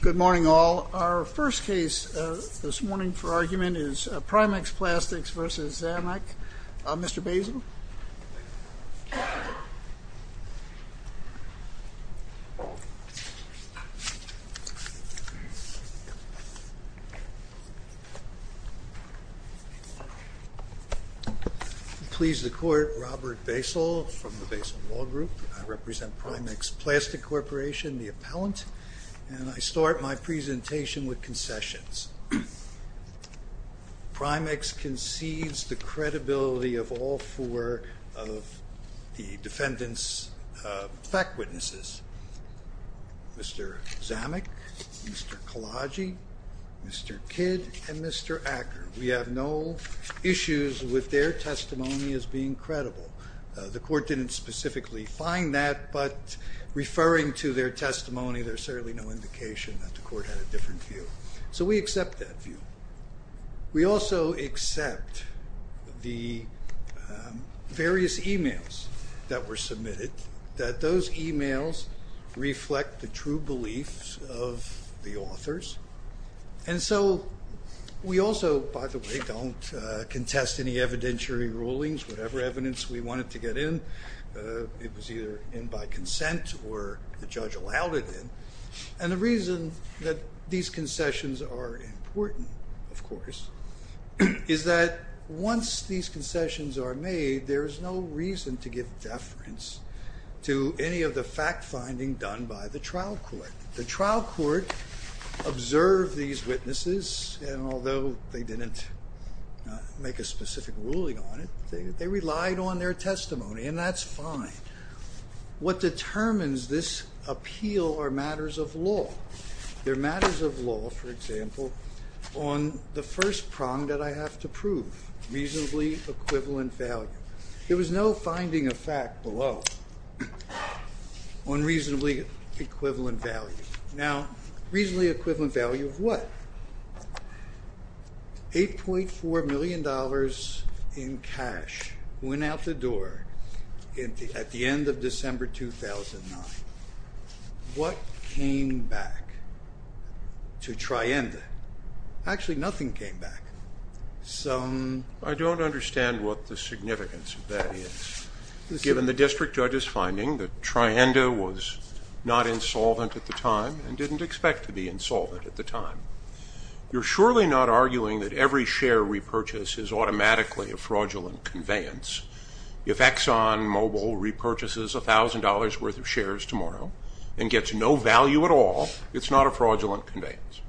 Good morning all. Our first case this morning for argument is Primex Plastics v. Zamec. Mr. Basile. Please the court, Robert Basile from the Basile Law Group. I represent Primex Plastics Corporation, the appellant, and I start my presentation with concessions. Primex concedes the credibility of all four of the defendants' fact witnesses. Mr. Zamec, Mr. Kalaji, Mr. Kidd, and Mr. Acker. We have no issues with their testimony as being credible. The court didn't specifically find that, but referring to their testimony, there's certainly no indication that the court had a different view. So we accept that view. We also accept the various e-mails that were submitted, that those e-mails reflect the true beliefs of the authors. And so we also, by the way, don't contest any evidentiary rulings. Whatever evidence we wanted to get in, it was either in by consent or the judge allowed it in. And the reason that these concessions are important, of course, is that once these concessions are made, there is no reason to give deference to any of the fact finding done by the trial court. The trial court observed these witnesses, and although they didn't make a specific ruling on it, they relied on their testimony, and that's fine. What determines this appeal are matters of law. They're matters of law, for example, on the first prong that I have to prove, reasonably equivalent value. There was no finding of fact below on reasonably equivalent value. Now, reasonably equivalent value of what? $8.4 million in cash went out the door at the end of December 2009. What came back to Trienda? Actually, nothing came back. I don't understand what the significance of that is. Given the district judge's finding that Trienda was not insolvent at the time and didn't expect to be insolvent at the time, you're surely not arguing that every share repurchase is automatically a fraudulent conveyance. If ExxonMobil repurchases $1,000 worth of shares tomorrow and gets no value at all, it's not a fraudulent conveyance.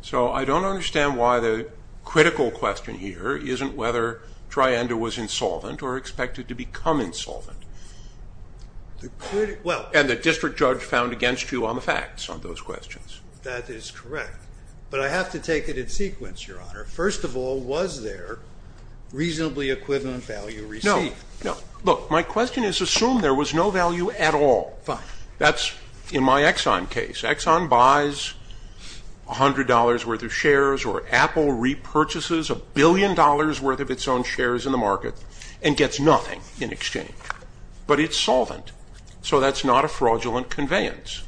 So I don't understand why the critical question here isn't whether Trienda was insolvent or expected to become insolvent. And the district judge found against you on the facts on those questions. That is correct. But I have to take it in sequence, Your Honor. First of all, was there reasonably equivalent value received? No, no. Look, my question is assume there was no value at all. Fine. That's in my Exxon case. Exxon buys $100 worth of shares or Apple repurchases $1 billion worth of its own shares in the market and gets nothing in exchange. But it's solvent, so that's not a fraudulent conveyance.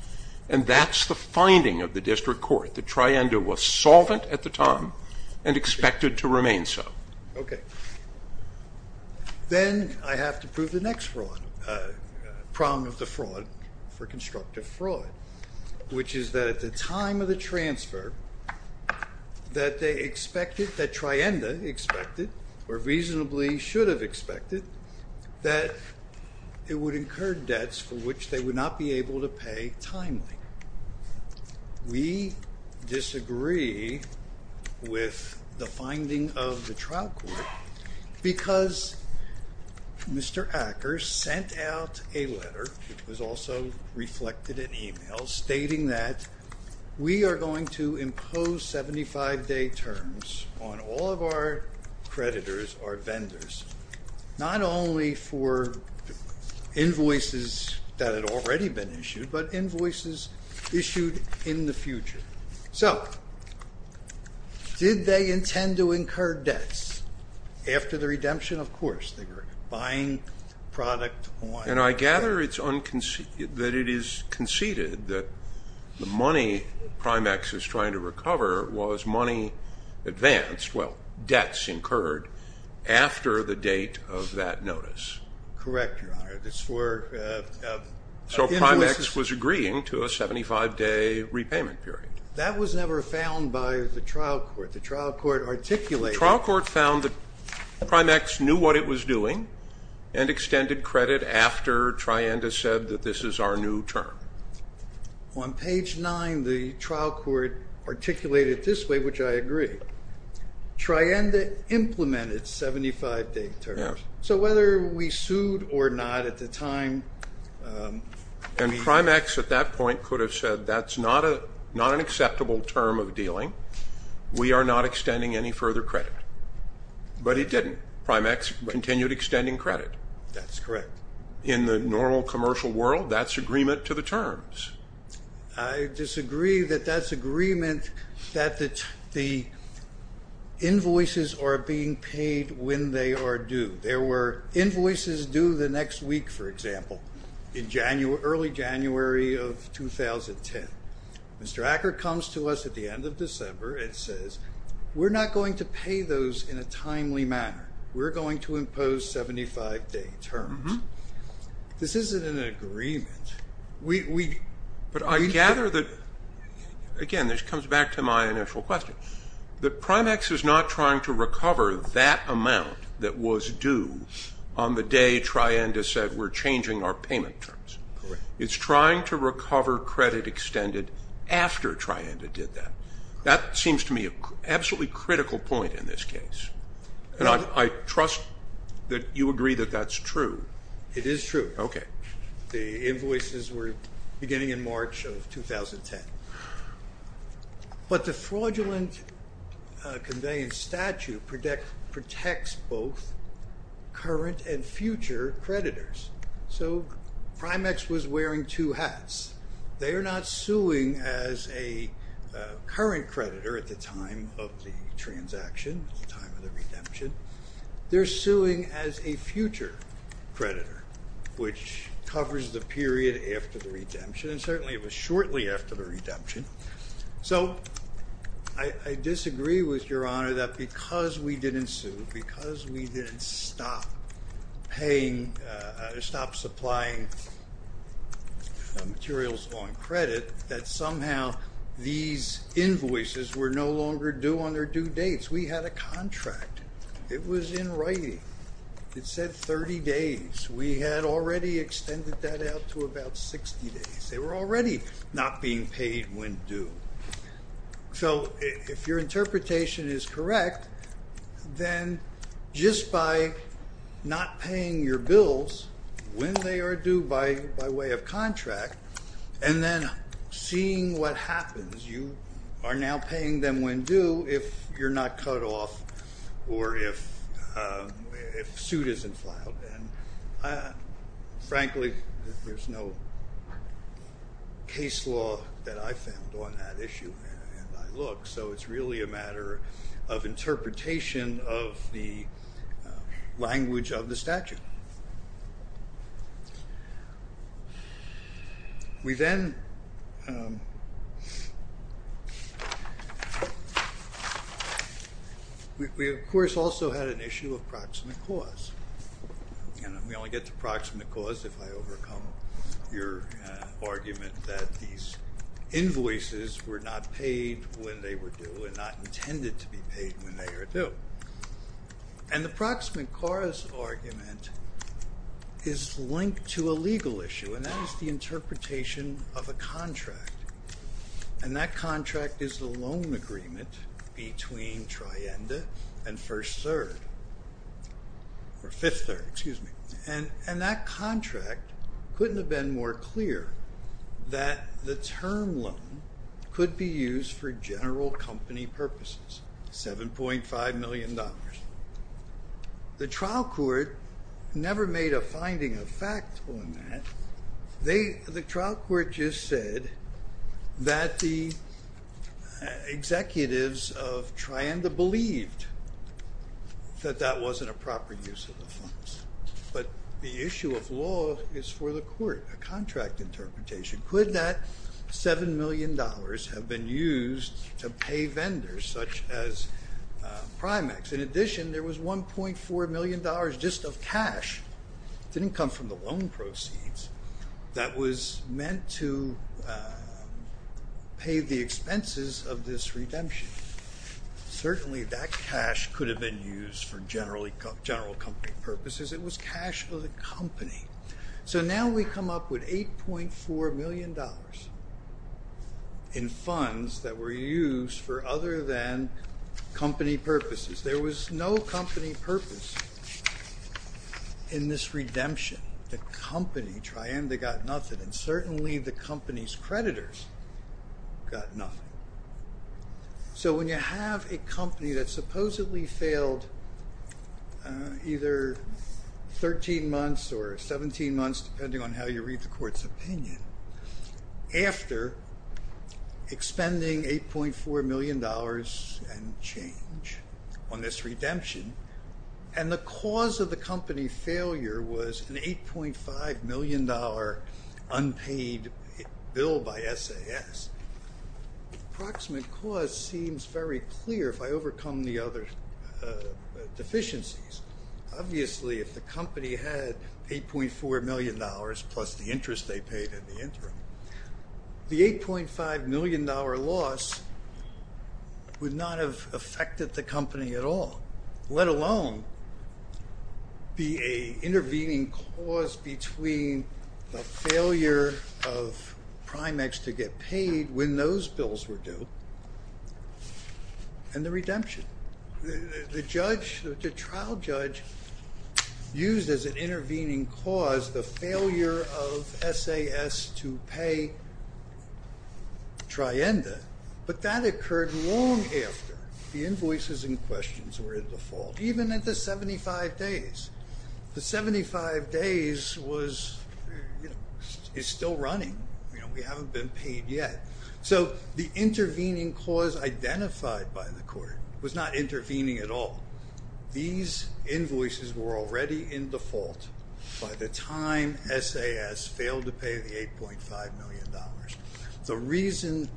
And that's the finding of the district court, that Trienda was solvent at the time and expected to remain so. Okay. Then I have to prove the next fraud, prong of the fraud for constructive fraud. Which is that at the time of the transfer, that Trienda expected, or reasonably should have expected, that it would incur debts for which they would not be able to pay timely. We disagree with the finding of the trial court because Mr. Acker sent out a letter, which was also reflected in email, stating that we are going to impose 75-day terms on all of our creditors, our vendors, not only for invoices that had already been issued, but invoices issued in the future. So did they intend to incur debts after the redemption? Of course. They were buying product on credit. And I gather that it is conceded that the money Primex is trying to recover was money advanced, well, debts incurred after the date of that notice. Correct, Your Honor. So Primex was agreeing to a 75-day repayment period. That was never found by the trial court. The trial court articulated it. The trial court found that Primex knew what it was doing and extended credit after Trienda said that this is our new term. On page 9, the trial court articulated it this way, which I agree. Trienda implemented 75-day terms. So whether we sued or not at the time. And Primex at that point could have said that's not an acceptable term of dealing. We are not extending any further credit. But he didn't. Primex continued extending credit. That's correct. In the normal commercial world, that's agreement to the terms. I disagree that that's agreement that the invoices are being paid when they are due. There were invoices due the next week, for example, in early January of 2010. Mr. Acker comes to us at the end of December and says, we're not going to pay those in a timely manner. We're going to impose 75-day terms. This isn't an agreement. But I gather that, again, this comes back to my initial question. That Primex is not trying to recover that amount that was due on the day Trienda said we're changing our payment terms. Correct. It's trying to recover credit extended after Trienda did that. That seems to me an absolutely critical point in this case. And I trust that you agree that that's true. It is true. Okay. The invoices were beginning in March of 2010. But the fraudulent conveyance statute protects both current and future creditors. So Primex was wearing two hats. They are not suing as a current creditor at the time of the transaction, at the time of the redemption. They're suing as a future creditor, which covers the period after the redemption. And certainly it was shortly after the redemption. So I disagree with Your Honor that because we didn't sue, because we didn't stop paying, stop supplying materials on credit, that somehow these invoices were no longer due on their due dates. We had a contract. It was in writing. It said 30 days. We had already extended that out to about 60 days. They were already not being paid when due. So if your interpretation is correct, then just by not paying your bills when they are due by way of contract, and then seeing what happens, you are now paying them when due if you're not cut off or if suit isn't filed. Frankly, there's no case law that I found on that issue, and I looked. So it's really a matter of interpretation of the language of the statute. We, of course, also had an issue of proximate cause. And we only get to proximate cause if I overcome your argument that these invoices were not paid when they were due and not intended to be paid when they are due. And the proximate cause argument is linked to a legal issue, and that is the interpretation of a contract. And that contract is the loan agreement between Trienda and First Third, or Fifth Third, excuse me. And that contract couldn't have been more clear that the term loan could be used for general company purposes. $7.5 million. The trial court never made a finding of fact on that. The trial court just said that the executives of Trienda believed that that wasn't a proper use of the funds. But the issue of law is for the court, a contract interpretation. Could that $7 million have been used to pay vendors such as Primex? In addition, there was $1.4 million just of cash. It didn't come from the loan proceeds. That was meant to pay the expenses of this redemption. Certainly that cash could have been used for general company purposes. It was cash of the company. So now we come up with $8.4 million in funds that were used for other than company purposes. There was no company purpose in this redemption. The company, Trienda, got nothing, and certainly the company's creditors got nothing. So when you have a company that supposedly failed either 13 months or 17 months, depending on how you read the court's opinion, after expending $8.4 million and change on this redemption, and the cause of the company failure was an $8.5 million unpaid bill by SAS, the approximate cause seems very clear if I overcome the other deficiencies. Obviously, if the company had $8.4 million plus the interest they paid in the interim, the $8.5 million loss would not have affected the company at all, let alone be an intervening cause between the failure of Primex to get paid when those bills were due and the redemption. The trial judge used as an intervening cause the failure of SAS to pay Trienda, but that occurred long after the invoices and questions were in default, even at the 75 days. The 75 days is still running. We haven't been paid yet. So the intervening cause identified by the court was not intervening at all. These invoices were already in default by the time SAS failed to pay the $8.5 million. The reason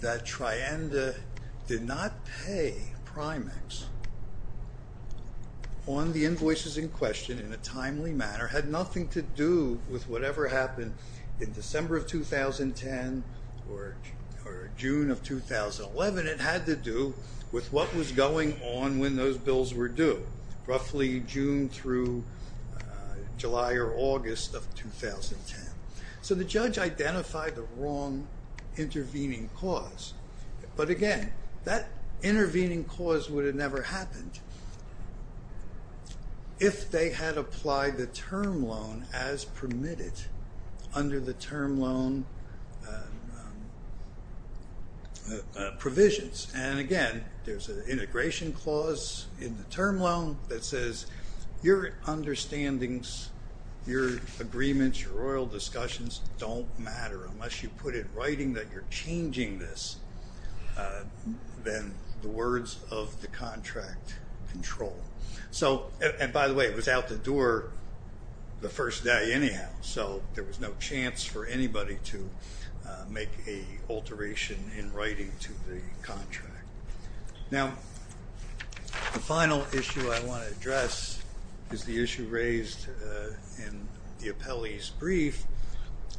that Trienda did not pay Primex on the invoices in question in a timely manner had nothing to do with whatever happened in December of 2010 or June of 2011. It had to do with what was going on when those bills were due, roughly June through July or August of 2010. So the judge identified the wrong intervening cause, but again, that intervening cause would have never happened if they had applied the term loan as permitted under the term loan provisions. And again, there's an integration clause in the term loan that says your understandings, your agreements, your royal discussions don't matter unless you put it in writing that you're changing this, then the words of the contract control. And by the way, it was out the door the first day anyhow, so there was no chance for anybody to make a alteration in writing to the contract. Now, the final issue I want to address is the issue raised in the appellee's brief,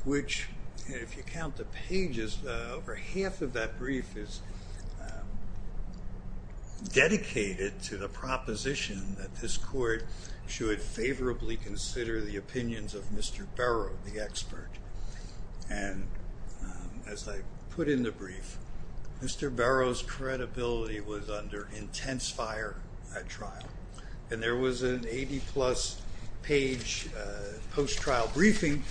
which if you count the pages, over half of that brief is dedicated to the proposition that this court should favorably consider the opinions of Mr. Barrow, the expert. And as I put in the brief, Mr. Barrow's credibility was under intense fire at trial, and there was an 80-plus page post-trial briefing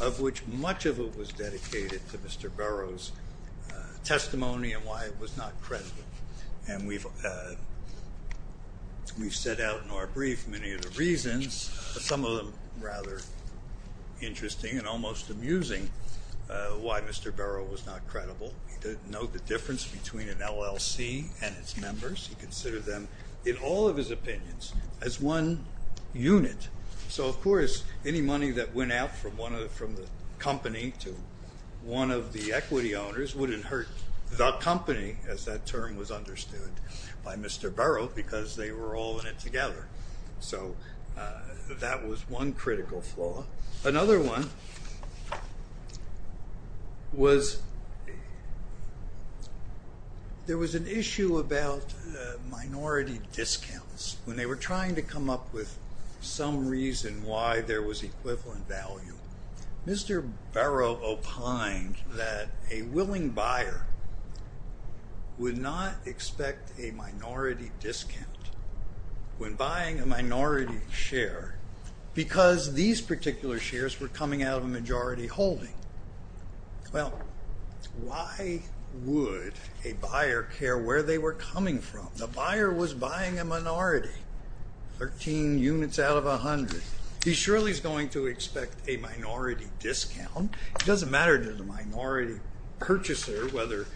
of which much of it was dedicated to Mr. Barrow's testimony and why it was not credited. And we've set out in our brief many of the reasons, some of them rather interesting and almost amusing, why Mr. Barrow was not credible. He didn't know the difference between an LLC and its members. He considered them, in all of his opinions, as one unit. So, of course, any money that went out from the company to one of the equity owners wouldn't hurt the company, as that term was understood by Mr. Barrow, because they were all in it together. So that was one critical flaw. Another one was there was an issue about minority discounts. When they were trying to come up with some reason why there was equivalent value, Mr. Barrow opined that a willing buyer would not expect a minority discount. When buying a minority share, because these particular shares were coming out of a majority holding, well, why would a buyer care where they were coming from? The buyer was buying a minority, 13 units out of 100. He surely is going to expect a minority discount. It doesn't matter to the minority purchaser whether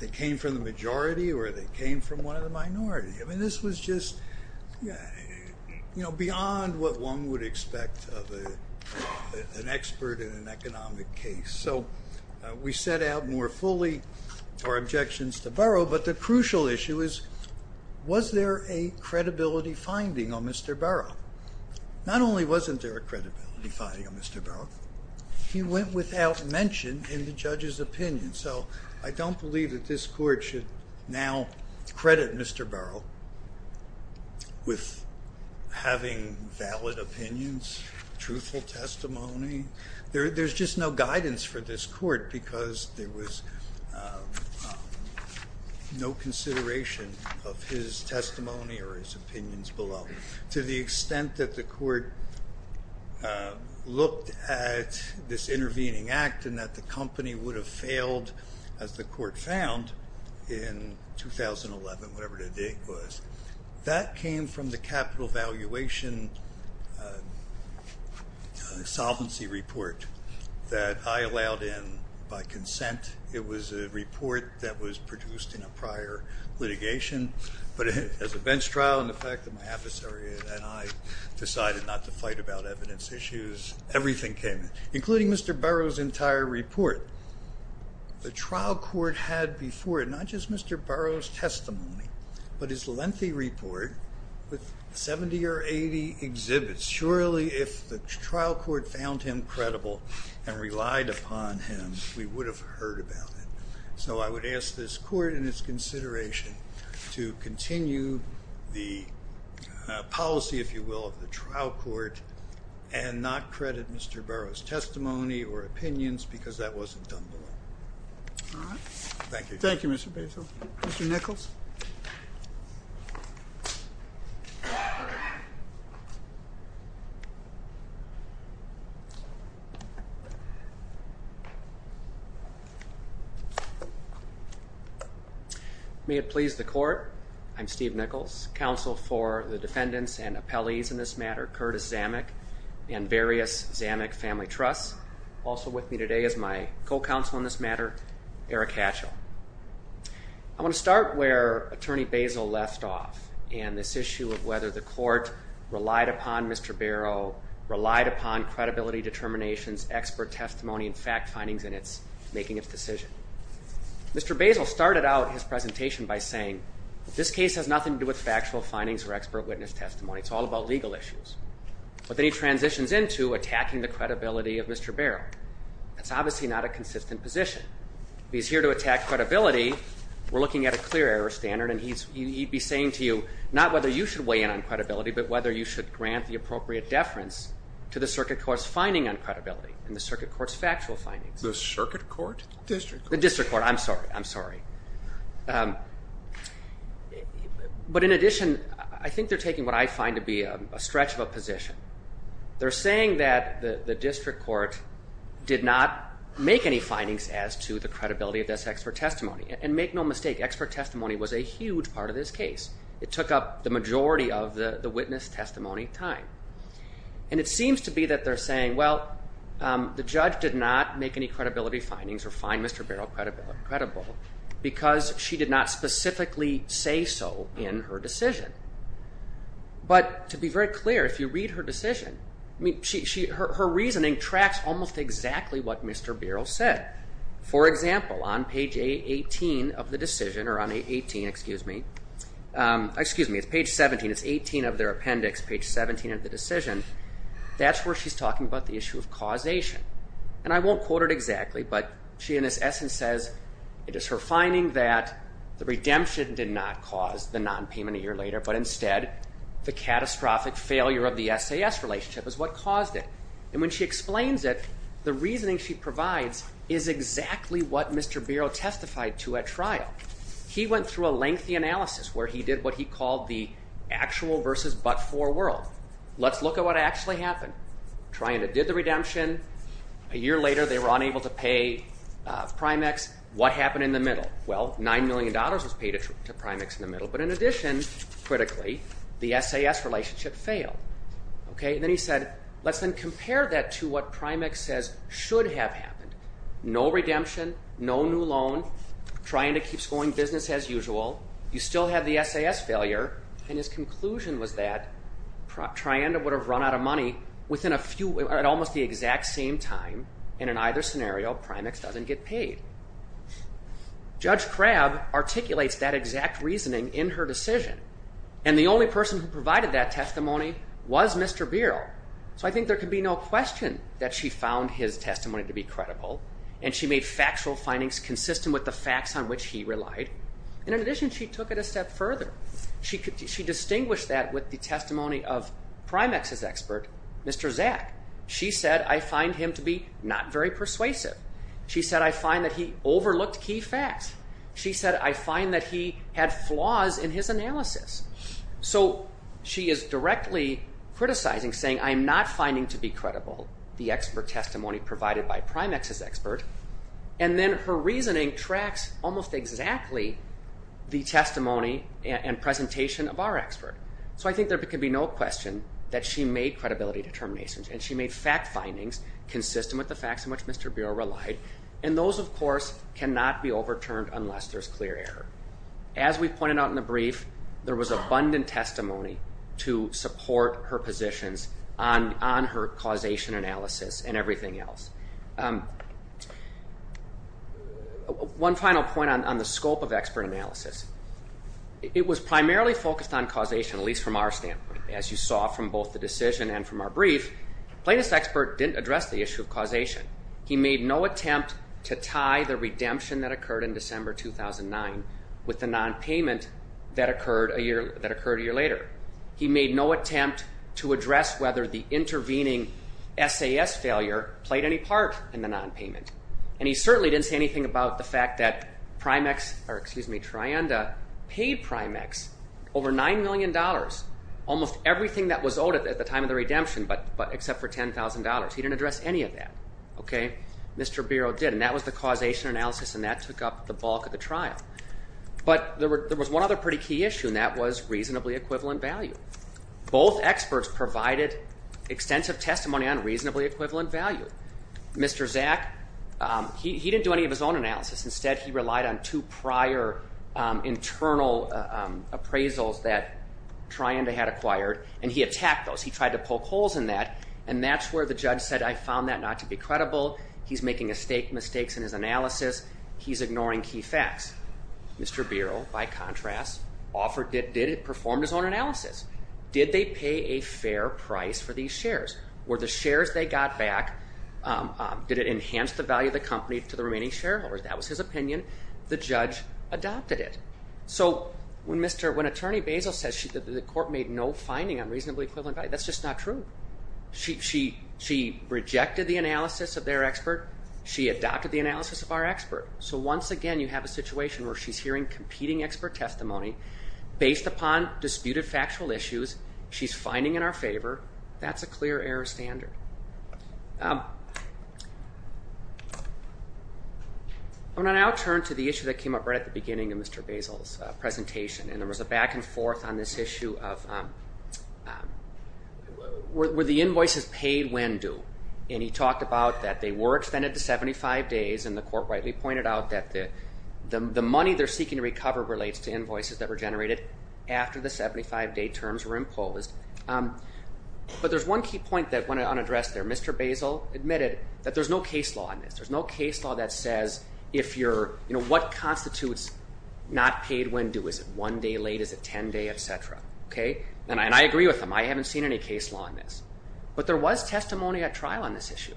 they came from the majority or they came from one of the minority. I mean, this was just beyond what one would expect of an expert in an economic case. So we set out more fully our objections to Barrow, but the crucial issue is was there a credibility finding on Mr. Barrow? Not only wasn't there a credibility finding on Mr. Barrow, he went without mention in the judge's opinion. So I don't believe that this court should now credit Mr. Barrow with having valid opinions, truthful testimony. There's just no guidance for this court because there was no consideration of his testimony or his opinions below to the extent that the court looked at this intervening act and that the company would have failed as the court found in 2011, whatever the date was. That came from the capital valuation solvency report that I allowed in by consent. It was a report that was produced in a prior litigation, but as a bench trial and the fact that my adversary and I decided not to fight about evidence issues, everything came in, including Mr. Barrow's entire report. The trial court had before it not just Mr. Barrow's testimony, but his lengthy report with 70 or 80 exhibits. Surely if the trial court found him credible and relied upon him, we would have heard about it. So I would ask this court in its consideration to continue the policy, if you will, of the trial court and not credit Mr. Barrow's testimony or opinions because that wasn't done well. All right. Thank you. Thank you, Mr. Basile. Mr. Nichols. May it please the court. I'm Steve Nichols, Counsel for the Defendants and Appellees in this matter, Curtis Zamek and various Zamek family trusts. Also with me today is my co-counsel in this matter, Eric Hatchell. I want to start where Attorney Basile left off in this issue of whether the court relied upon Mr. Barrow, relied upon credibility determinations, expert testimony, and fact findings in its making of decision. Mr. Basile started out his presentation by saying this case has nothing to do with factual findings or expert witness testimony. It's all about legal issues. But then he transitions into attacking the credibility of Mr. Barrow. That's obviously not a consistent position. He's here to attack credibility. We're looking at a clear error standard, and he'd be saying to you not whether you should weigh in on credibility but whether you should grant the appropriate deference to the circuit court's finding on credibility and the circuit court's factual findings. The circuit court? The district court. The district court. I'm sorry. I'm sorry. But in addition, I think they're taking what I find to be a stretch of a position. They're saying that the district court did not make any findings as to the credibility of this expert testimony. And make no mistake, expert testimony was a huge part of this case. It took up the majority of the witness testimony time. And it seems to be that they're saying, well, the judge did not make any credibility findings or find Mr. Barrow credible because she did not specifically say so in her decision. But to be very clear, if you read her decision, her reasoning tracks almost exactly what Mr. Barrow said. For example, on page 18 of the decision, or on 18, excuse me, excuse me, it's page 17. It's 18 of their appendix, page 17 of the decision. That's where she's talking about the issue of causation. And I won't quote it exactly, but she in this essence says it is her finding that the redemption did not cause the nonpayment a year later, but instead the catastrophic failure of the SAS relationship is what caused it. And when she explains it, the reasoning she provides is exactly what Mr. Barrow testified to at trial. He went through a lengthy analysis where he did what he called the actual versus but-for world. Let's look at what actually happened. Trying to did the redemption. A year later they were unable to pay Primex. What happened in the middle? Well, $9 million was paid to Primex in the middle. But in addition, critically, the SAS relationship failed. Then he said, let's then compare that to what Primex says should have happened. No redemption, no new loan, Trianda keeps going business as usual. You still have the SAS failure. And his conclusion was that Trianda would have run out of money within a few, at almost the exact same time. And in either scenario, Primex doesn't get paid. Judge Crabb articulates that exact reasoning in her decision. And the only person who provided that testimony was Mr. Barrow. So I think there can be no question that she found his testimony to be credible. And she made factual findings consistent with the facts on which he relied. And in addition, she took it a step further. She distinguished that with the testimony of Primex's expert, Mr. Zak. She said, I find him to be not very persuasive. She said, I find that he overlooked key facts. She said, I find that he had flaws in his analysis. So she is directly criticizing, saying, I am not finding to be credible the expert testimony provided by Primex's expert. And then her reasoning tracks almost exactly the testimony and presentation of our expert. So I think there can be no question that she made credibility determinations. And she made fact findings consistent with the facts in which Mr. Barrow relied. And those, of course, cannot be overturned unless there is clear error. As we pointed out in the brief, there was abundant testimony to support her positions on her causation analysis and everything else. One final point on the scope of expert analysis. It was primarily focused on causation, at least from our standpoint. As you saw from both the decision and from our brief, plaintiff's expert didn't address the issue of causation. He made no attempt to tie the redemption that occurred in December 2009 with the nonpayment that occurred a year later. He made no attempt to address whether the intervening SAS failure played any part in the nonpayment. And he certainly didn't say anything about the fact that Trienda paid Primex over $9 million, almost everything that was owed at the time of the redemption, but except for $10,000. He didn't address any of that. Mr. Barrow did, and that was the causation analysis, and that took up the bulk of the trial. But there was one other pretty key issue, and that was reasonably equivalent value. Both experts provided extensive testimony on reasonably equivalent value. Mr. Zak, he didn't do any of his own analysis. Instead, he relied on two prior internal appraisals that Trienda had acquired, and he attacked those. He tried to poke holes in that, and that's where the judge said, I found that not to be credible. He's making mistakes in his analysis. He's ignoring key facts. Mr. Barrow, by contrast, performed his own analysis. Did they pay a fair price for these shares? Were the shares they got back, did it enhance the value of the company to the remaining shareholders? That was his opinion. The judge adopted it. So when Attorney Basil says that the court made no finding on reasonably equivalent value, that's just not true. She rejected the analysis of their expert. She adopted the analysis of our expert. So once again, you have a situation where she's hearing competing expert testimony based upon disputed factual issues. She's finding in our favor. That's a clear error standard. I'm going to now turn to the issue that came up right at the beginning of Mr. Basil's presentation, and there was a back and forth on this issue of were the invoices paid when due? And he talked about that they were extended to 75 days, and the court rightly pointed out that the money they're seeking to recover relates to invoices that were generated after the 75-day terms were imposed. But there's one key point that went unaddressed there. Mr. Basil admitted that there's no case law on this. There's no case law that says what constitutes not paid when due? Is it one day late? Is it 10 days, et cetera? And I agree with him. I haven't seen any case law on this. But there was testimony at trial on this issue.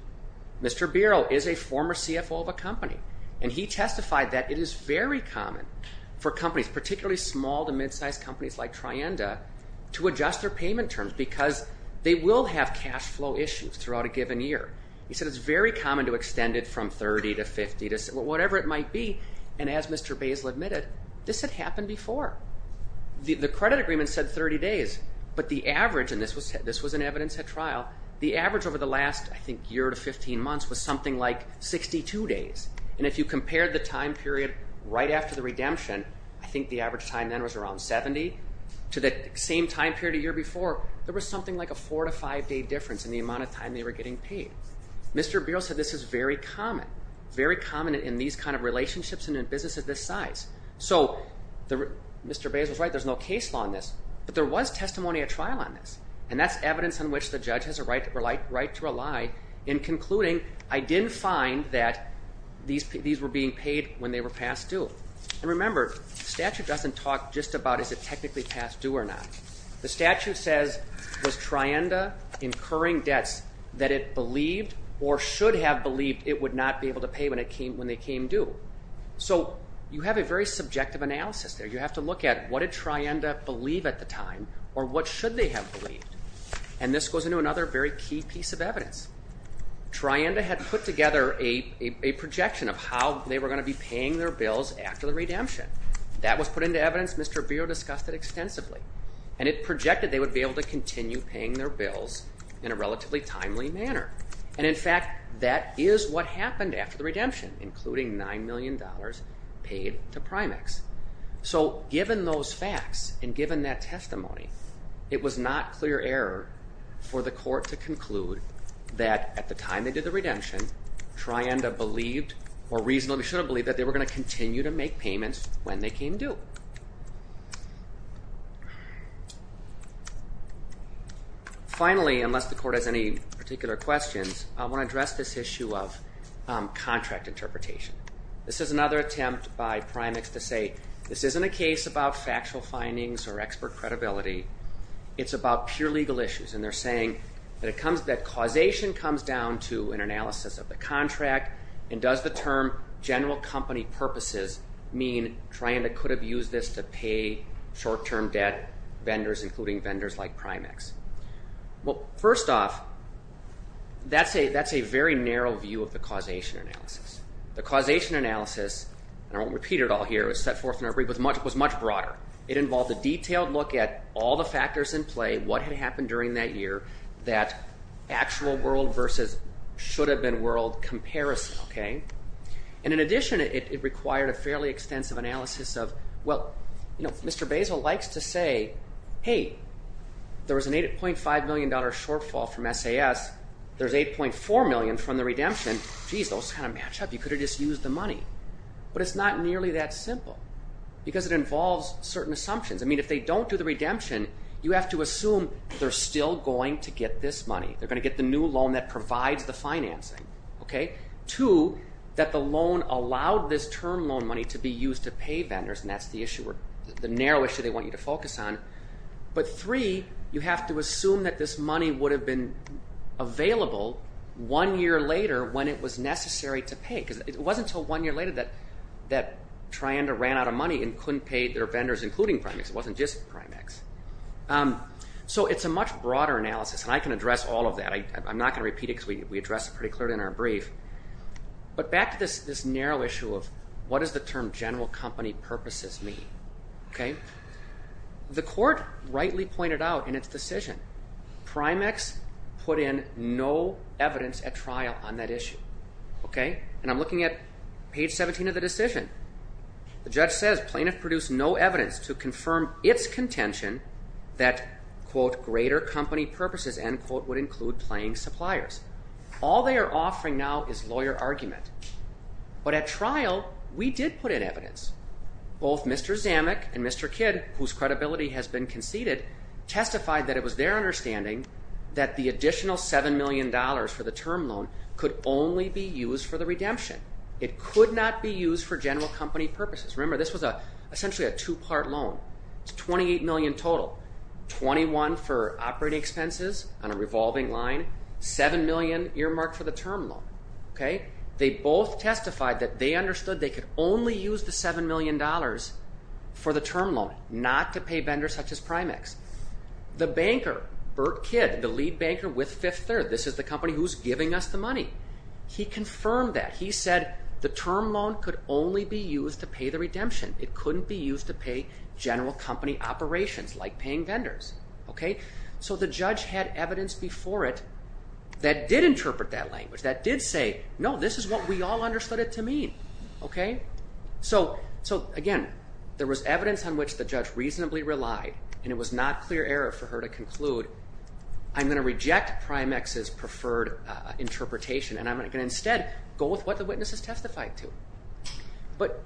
Mr. Biro is a former CFO of a company, and he testified that it is very common for companies, particularly small to mid-sized companies like Trienda, to adjust their payment terms because they will have cash flow issues throughout a given year. He said it's very common to extend it from 30 to 50, whatever it might be. And as Mr. Basil admitted, this had happened before. The credit agreement said 30 days, but the average, and this was in evidence at trial, the average over the last, I think, year to 15 months was something like 62 days. And if you compare the time period right after the redemption, I think the average time then was around 70, to the same time period a year before, there was something like a four- to five-day difference in the amount of time they were getting paid. Mr. Biro said this is very common, very common in these kind of relationships and in businesses this size. So Mr. Basil's right, there's no case law on this, but there was testimony at trial on this, and that's evidence on which the judge has a right to rely in concluding, I didn't find that these were being paid when they were past due. And remember, statute doesn't talk just about is it technically past due or not. The statute says was Trienda incurring debts that it believed or should have believed it would not be able to pay when they came due. So you have a very subjective analysis there. You have to look at what did Trienda believe at the time or what should they have believed. And this goes into another very key piece of evidence. Trienda had put together a projection of how they were going to be paying their bills after the redemption. That was put into evidence. Mr. Biro discussed it extensively. And it projected they would be able to continue paying their bills in a relatively timely manner. And, in fact, that is what happened after the redemption, including $9 million paid to Primex. So given those facts and given that testimony, it was not clear error for the court to conclude that at the time they did the redemption, Trienda believed or reasonably should have believed that they were going to continue to make payments when they came due. Finally, unless the court has any particular questions, I want to address this issue of contract interpretation. This is another attempt by Primex to say this isn't a case about factual findings or expert credibility. It's about pure legal issues. And they're saying that causation comes down to an analysis of the contract and does the term general company purposes mean Trienda could have used this to pay short-term debt vendors, including vendors like Primex. Well, first off, that's a very narrow view of the causation analysis. The causation analysis, and I won't repeat it all here, it was set forth in our brief, was much broader. It involved a detailed look at all the factors in play, what had happened during that year, that actual world versus should have been world comparison. And, in addition, it required a fairly extensive analysis of, well, Mr. Basil likes to say, hey, there was an $8.5 million shortfall from SAS. There's $8.4 million from the redemption. Jeez, those kind of match up. You could have just used the money. But it's not nearly that simple because it involves certain assumptions. I mean, if they don't do the redemption, you have to assume they're still going to get this money. They're going to get the new loan that provides the financing. Two, that the loan allowed this term loan money to be used to pay vendors, and that's the narrow issue they want you to focus on. But, three, you have to assume that this money would have been available one year later when it was necessary to pay because it wasn't until one year later that Trianda ran out of money and couldn't pay their vendors, including Primex. It wasn't just Primex. So it's a much broader analysis, and I can address all of that. I'm not going to repeat it because we addressed it pretty clearly in our brief. But back to this narrow issue of what does the term general company purposes mean? The court rightly pointed out in its decision, Primex put in no evidence at trial on that issue. And I'm looking at page 17 of the decision. The judge says plaintiff produced no evidence to confirm its contention that greater company purposes would include paying suppliers. All they are offering now is lawyer argument. But at trial, we did put in evidence. Both Mr. Zamek and Mr. Kidd, whose credibility has been conceded, testified that it was their understanding that the additional $7 million for the term loan could only be used for the redemption. It could not be used for general company purposes. Remember, this was essentially a two-part loan. It's $28 million total, $21 million for operating expenses on a revolving line, $7 million earmarked for the term loan. They both testified that they understood they could only use the $7 million for the term loan, not to pay vendors such as Primex. The banker, Burt Kidd, the lead banker with Fifth Third, this is the company who's giving us the money. He confirmed that. He said the term loan could only be used to pay the redemption. It couldn't be used to pay general company operations like paying vendors. So the judge had evidence before it that did interpret that language, that did say, no, this is what we all understood it to mean. So, again, there was evidence on which the judge reasonably relied, and it was not clear error for her to conclude, I'm going to reject Primex's preferred interpretation and I'm going to instead go with what the witness has testified to. But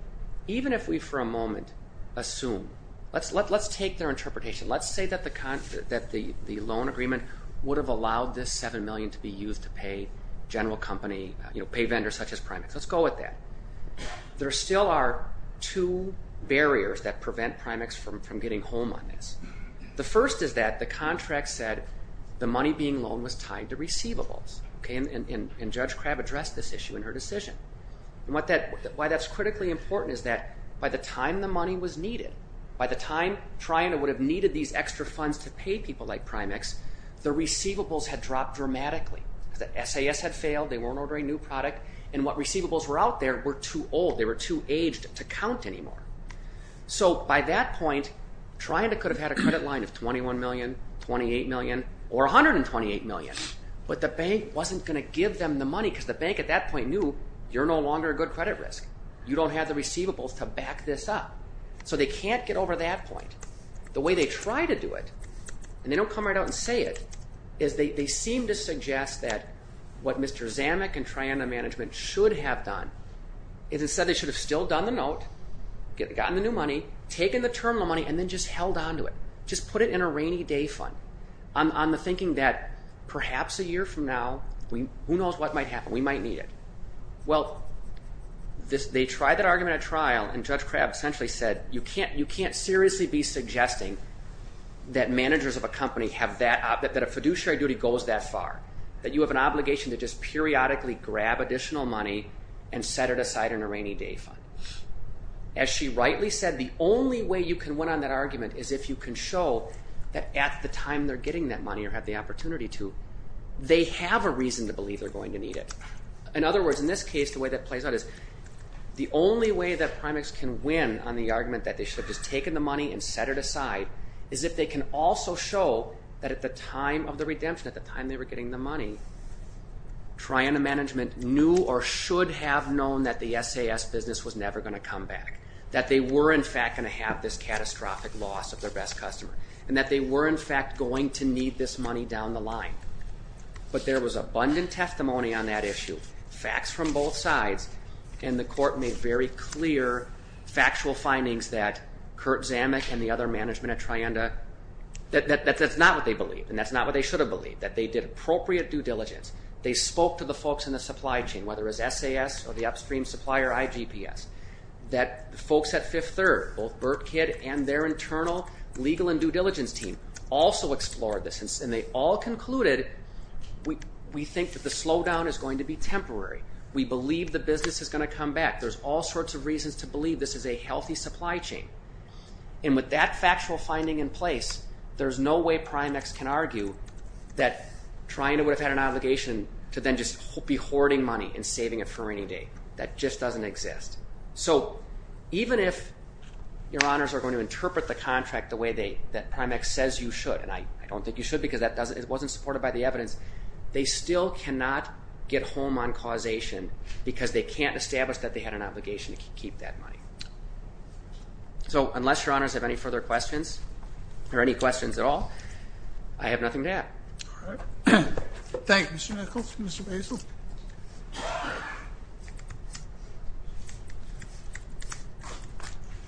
even if we for a moment assume, let's take their interpretation. Let's say that the loan agreement would have allowed this $7 million to be used to pay general company, pay vendors such as Primex. Let's go with that. There still are two barriers that prevent Primex from getting home on this. The first is that the contract said the money being loaned was tied to receivables, and Judge Crabb addressed this issue in her decision. Why that's critically important is that by the time the money was needed, by the time Trianda would have needed these extra funds to pay people like Primex, the receivables had dropped dramatically. The SAS had failed, they weren't ordering new product, and what receivables were out there were too old, they were too aged to count anymore. So by that point, Trianda could have had a credit line of $21 million, $28 million, or $128 million, but the bank wasn't going to give them the money because the bank at that point knew, you're no longer a good credit risk. You don't have the receivables to back this up. So they can't get over that point. The way they try to do it, and they don't come right out and say it, is they seem to suggest that what Mr. Zamek and Trianda management should have done is instead they should have still done the note, gotten the new money, taken the terminal money, and then just held on to it, just put it in a rainy day fund, on the thinking that perhaps a year from now, who knows what might happen, we might need it. Well, they tried that argument at trial, and Judge Crabb essentially said, you can't seriously be suggesting that managers of a company have that, that a fiduciary duty goes that far, that you have an obligation to just periodically grab additional money and set it aside in a rainy day fund. As she rightly said, the only way you can win on that argument is if you can show that at the time they're getting that money or have the opportunity to, they have a reason to believe they're going to need it. In other words, in this case, the way that plays out is the only way that Primax can win on the argument that they should have just taken the money and set it aside is if they can also show that at the time of the redemption, at the time they were getting the money, Trianda management knew or should have known that the SAS business was never going to come back, that they were in fact going to have this catastrophic loss of their best customer, and that they were in fact going to need this money down the line. But there was abundant testimony on that issue, facts from both sides, and the court made very clear factual findings that Kurt Zamek and the other management at Trianda, that that's not what they believed and that's not what they should have believed, that they did appropriate due diligence. They spoke to the folks in the supply chain, whether it was SAS or the upstream supplier, IGPS, that folks at Fifth Third, both Burt Kidd and their internal legal and due diligence team, also explored this and they all concluded, we think that the slowdown is going to be temporary. We believe the business is going to come back. There's all sorts of reasons to believe this is a healthy supply chain. And with that factual finding in place, there's no way Primax can argue that Trianda would have had an obligation to then just be hoarding money and saving it for a rainy day. That just doesn't exist. So even if your honors are going to interpret the contract the way that Primax says you should, and I don't think you should because it wasn't supported by the evidence, they still cannot get home on causation because they can't establish that they had an obligation to keep that money. So unless your honors have any further questions, or any questions at all, I have nothing to add. All right. Thank you, Mr. Nichols. Mr. Basile.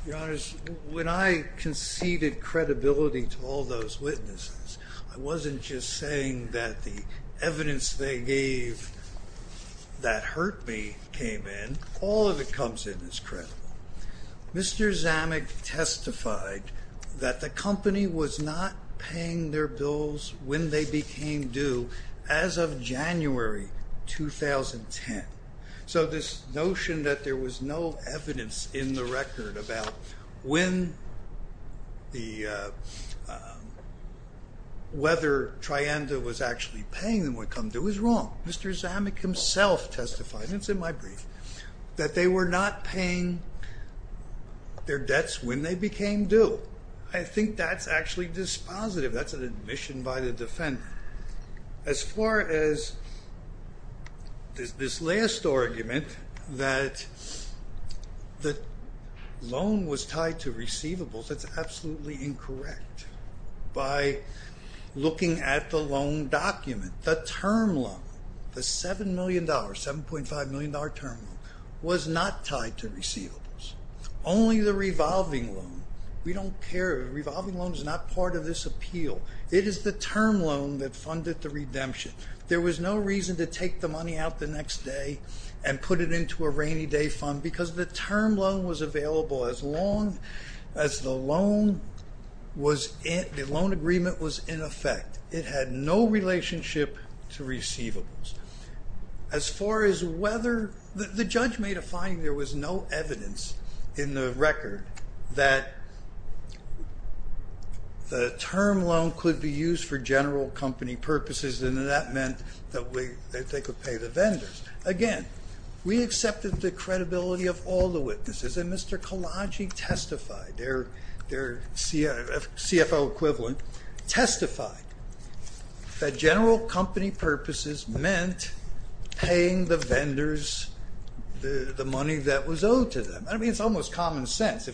Your honors, when I conceded credibility to all those witnesses, I wasn't just saying that the evidence they gave that hurt me came in. All of it comes in as credible. Mr. Zamek testified that the company was not paying their bills when they became due as of January 2010. So this notion that there was no evidence in the record about when the weather Trianda was actually paying them would come due is wrong. Mr. Zamek himself testified, and it's in my brief, that they were not paying their debts when they became due. I think that's actually dispositive. That's an admission by the defendant. As far as this last argument that the loan was tied to receivables, that's absolutely incorrect. By looking at the loan document, the term loan, the $7 million, $7.5 million term loan, was not tied to receivables. Only the revolving loan. We don't care. The revolving loan is not part of this appeal. It is the term loan that funded the redemption. There was no reason to take the money out the next day and put it into a rainy day fund because the term loan was available as long as the loan agreement was in effect. It had no relationship to receivables. The judge made a finding there was no evidence in the record that the term loan could be used for general company purposes, and that meant that they could pay the vendors. Again, we accepted the credibility of all the witnesses, and Mr. Kalaji testified, their CFO equivalent, testified that general company purposes meant paying the vendors the money that was owed to them. I mean, it's almost common sense.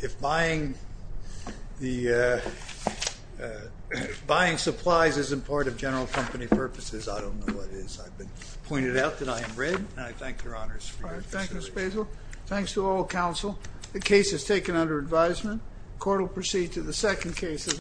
If buying supplies isn't part of general company purposes, I don't know what is. I've been pointed out that I am rigged, and I thank your honors for your consideration. All right. Thank you, Mr. Basil. Thanks to all counsel. The case is taken under advisement. Court will proceed to the second case as amended.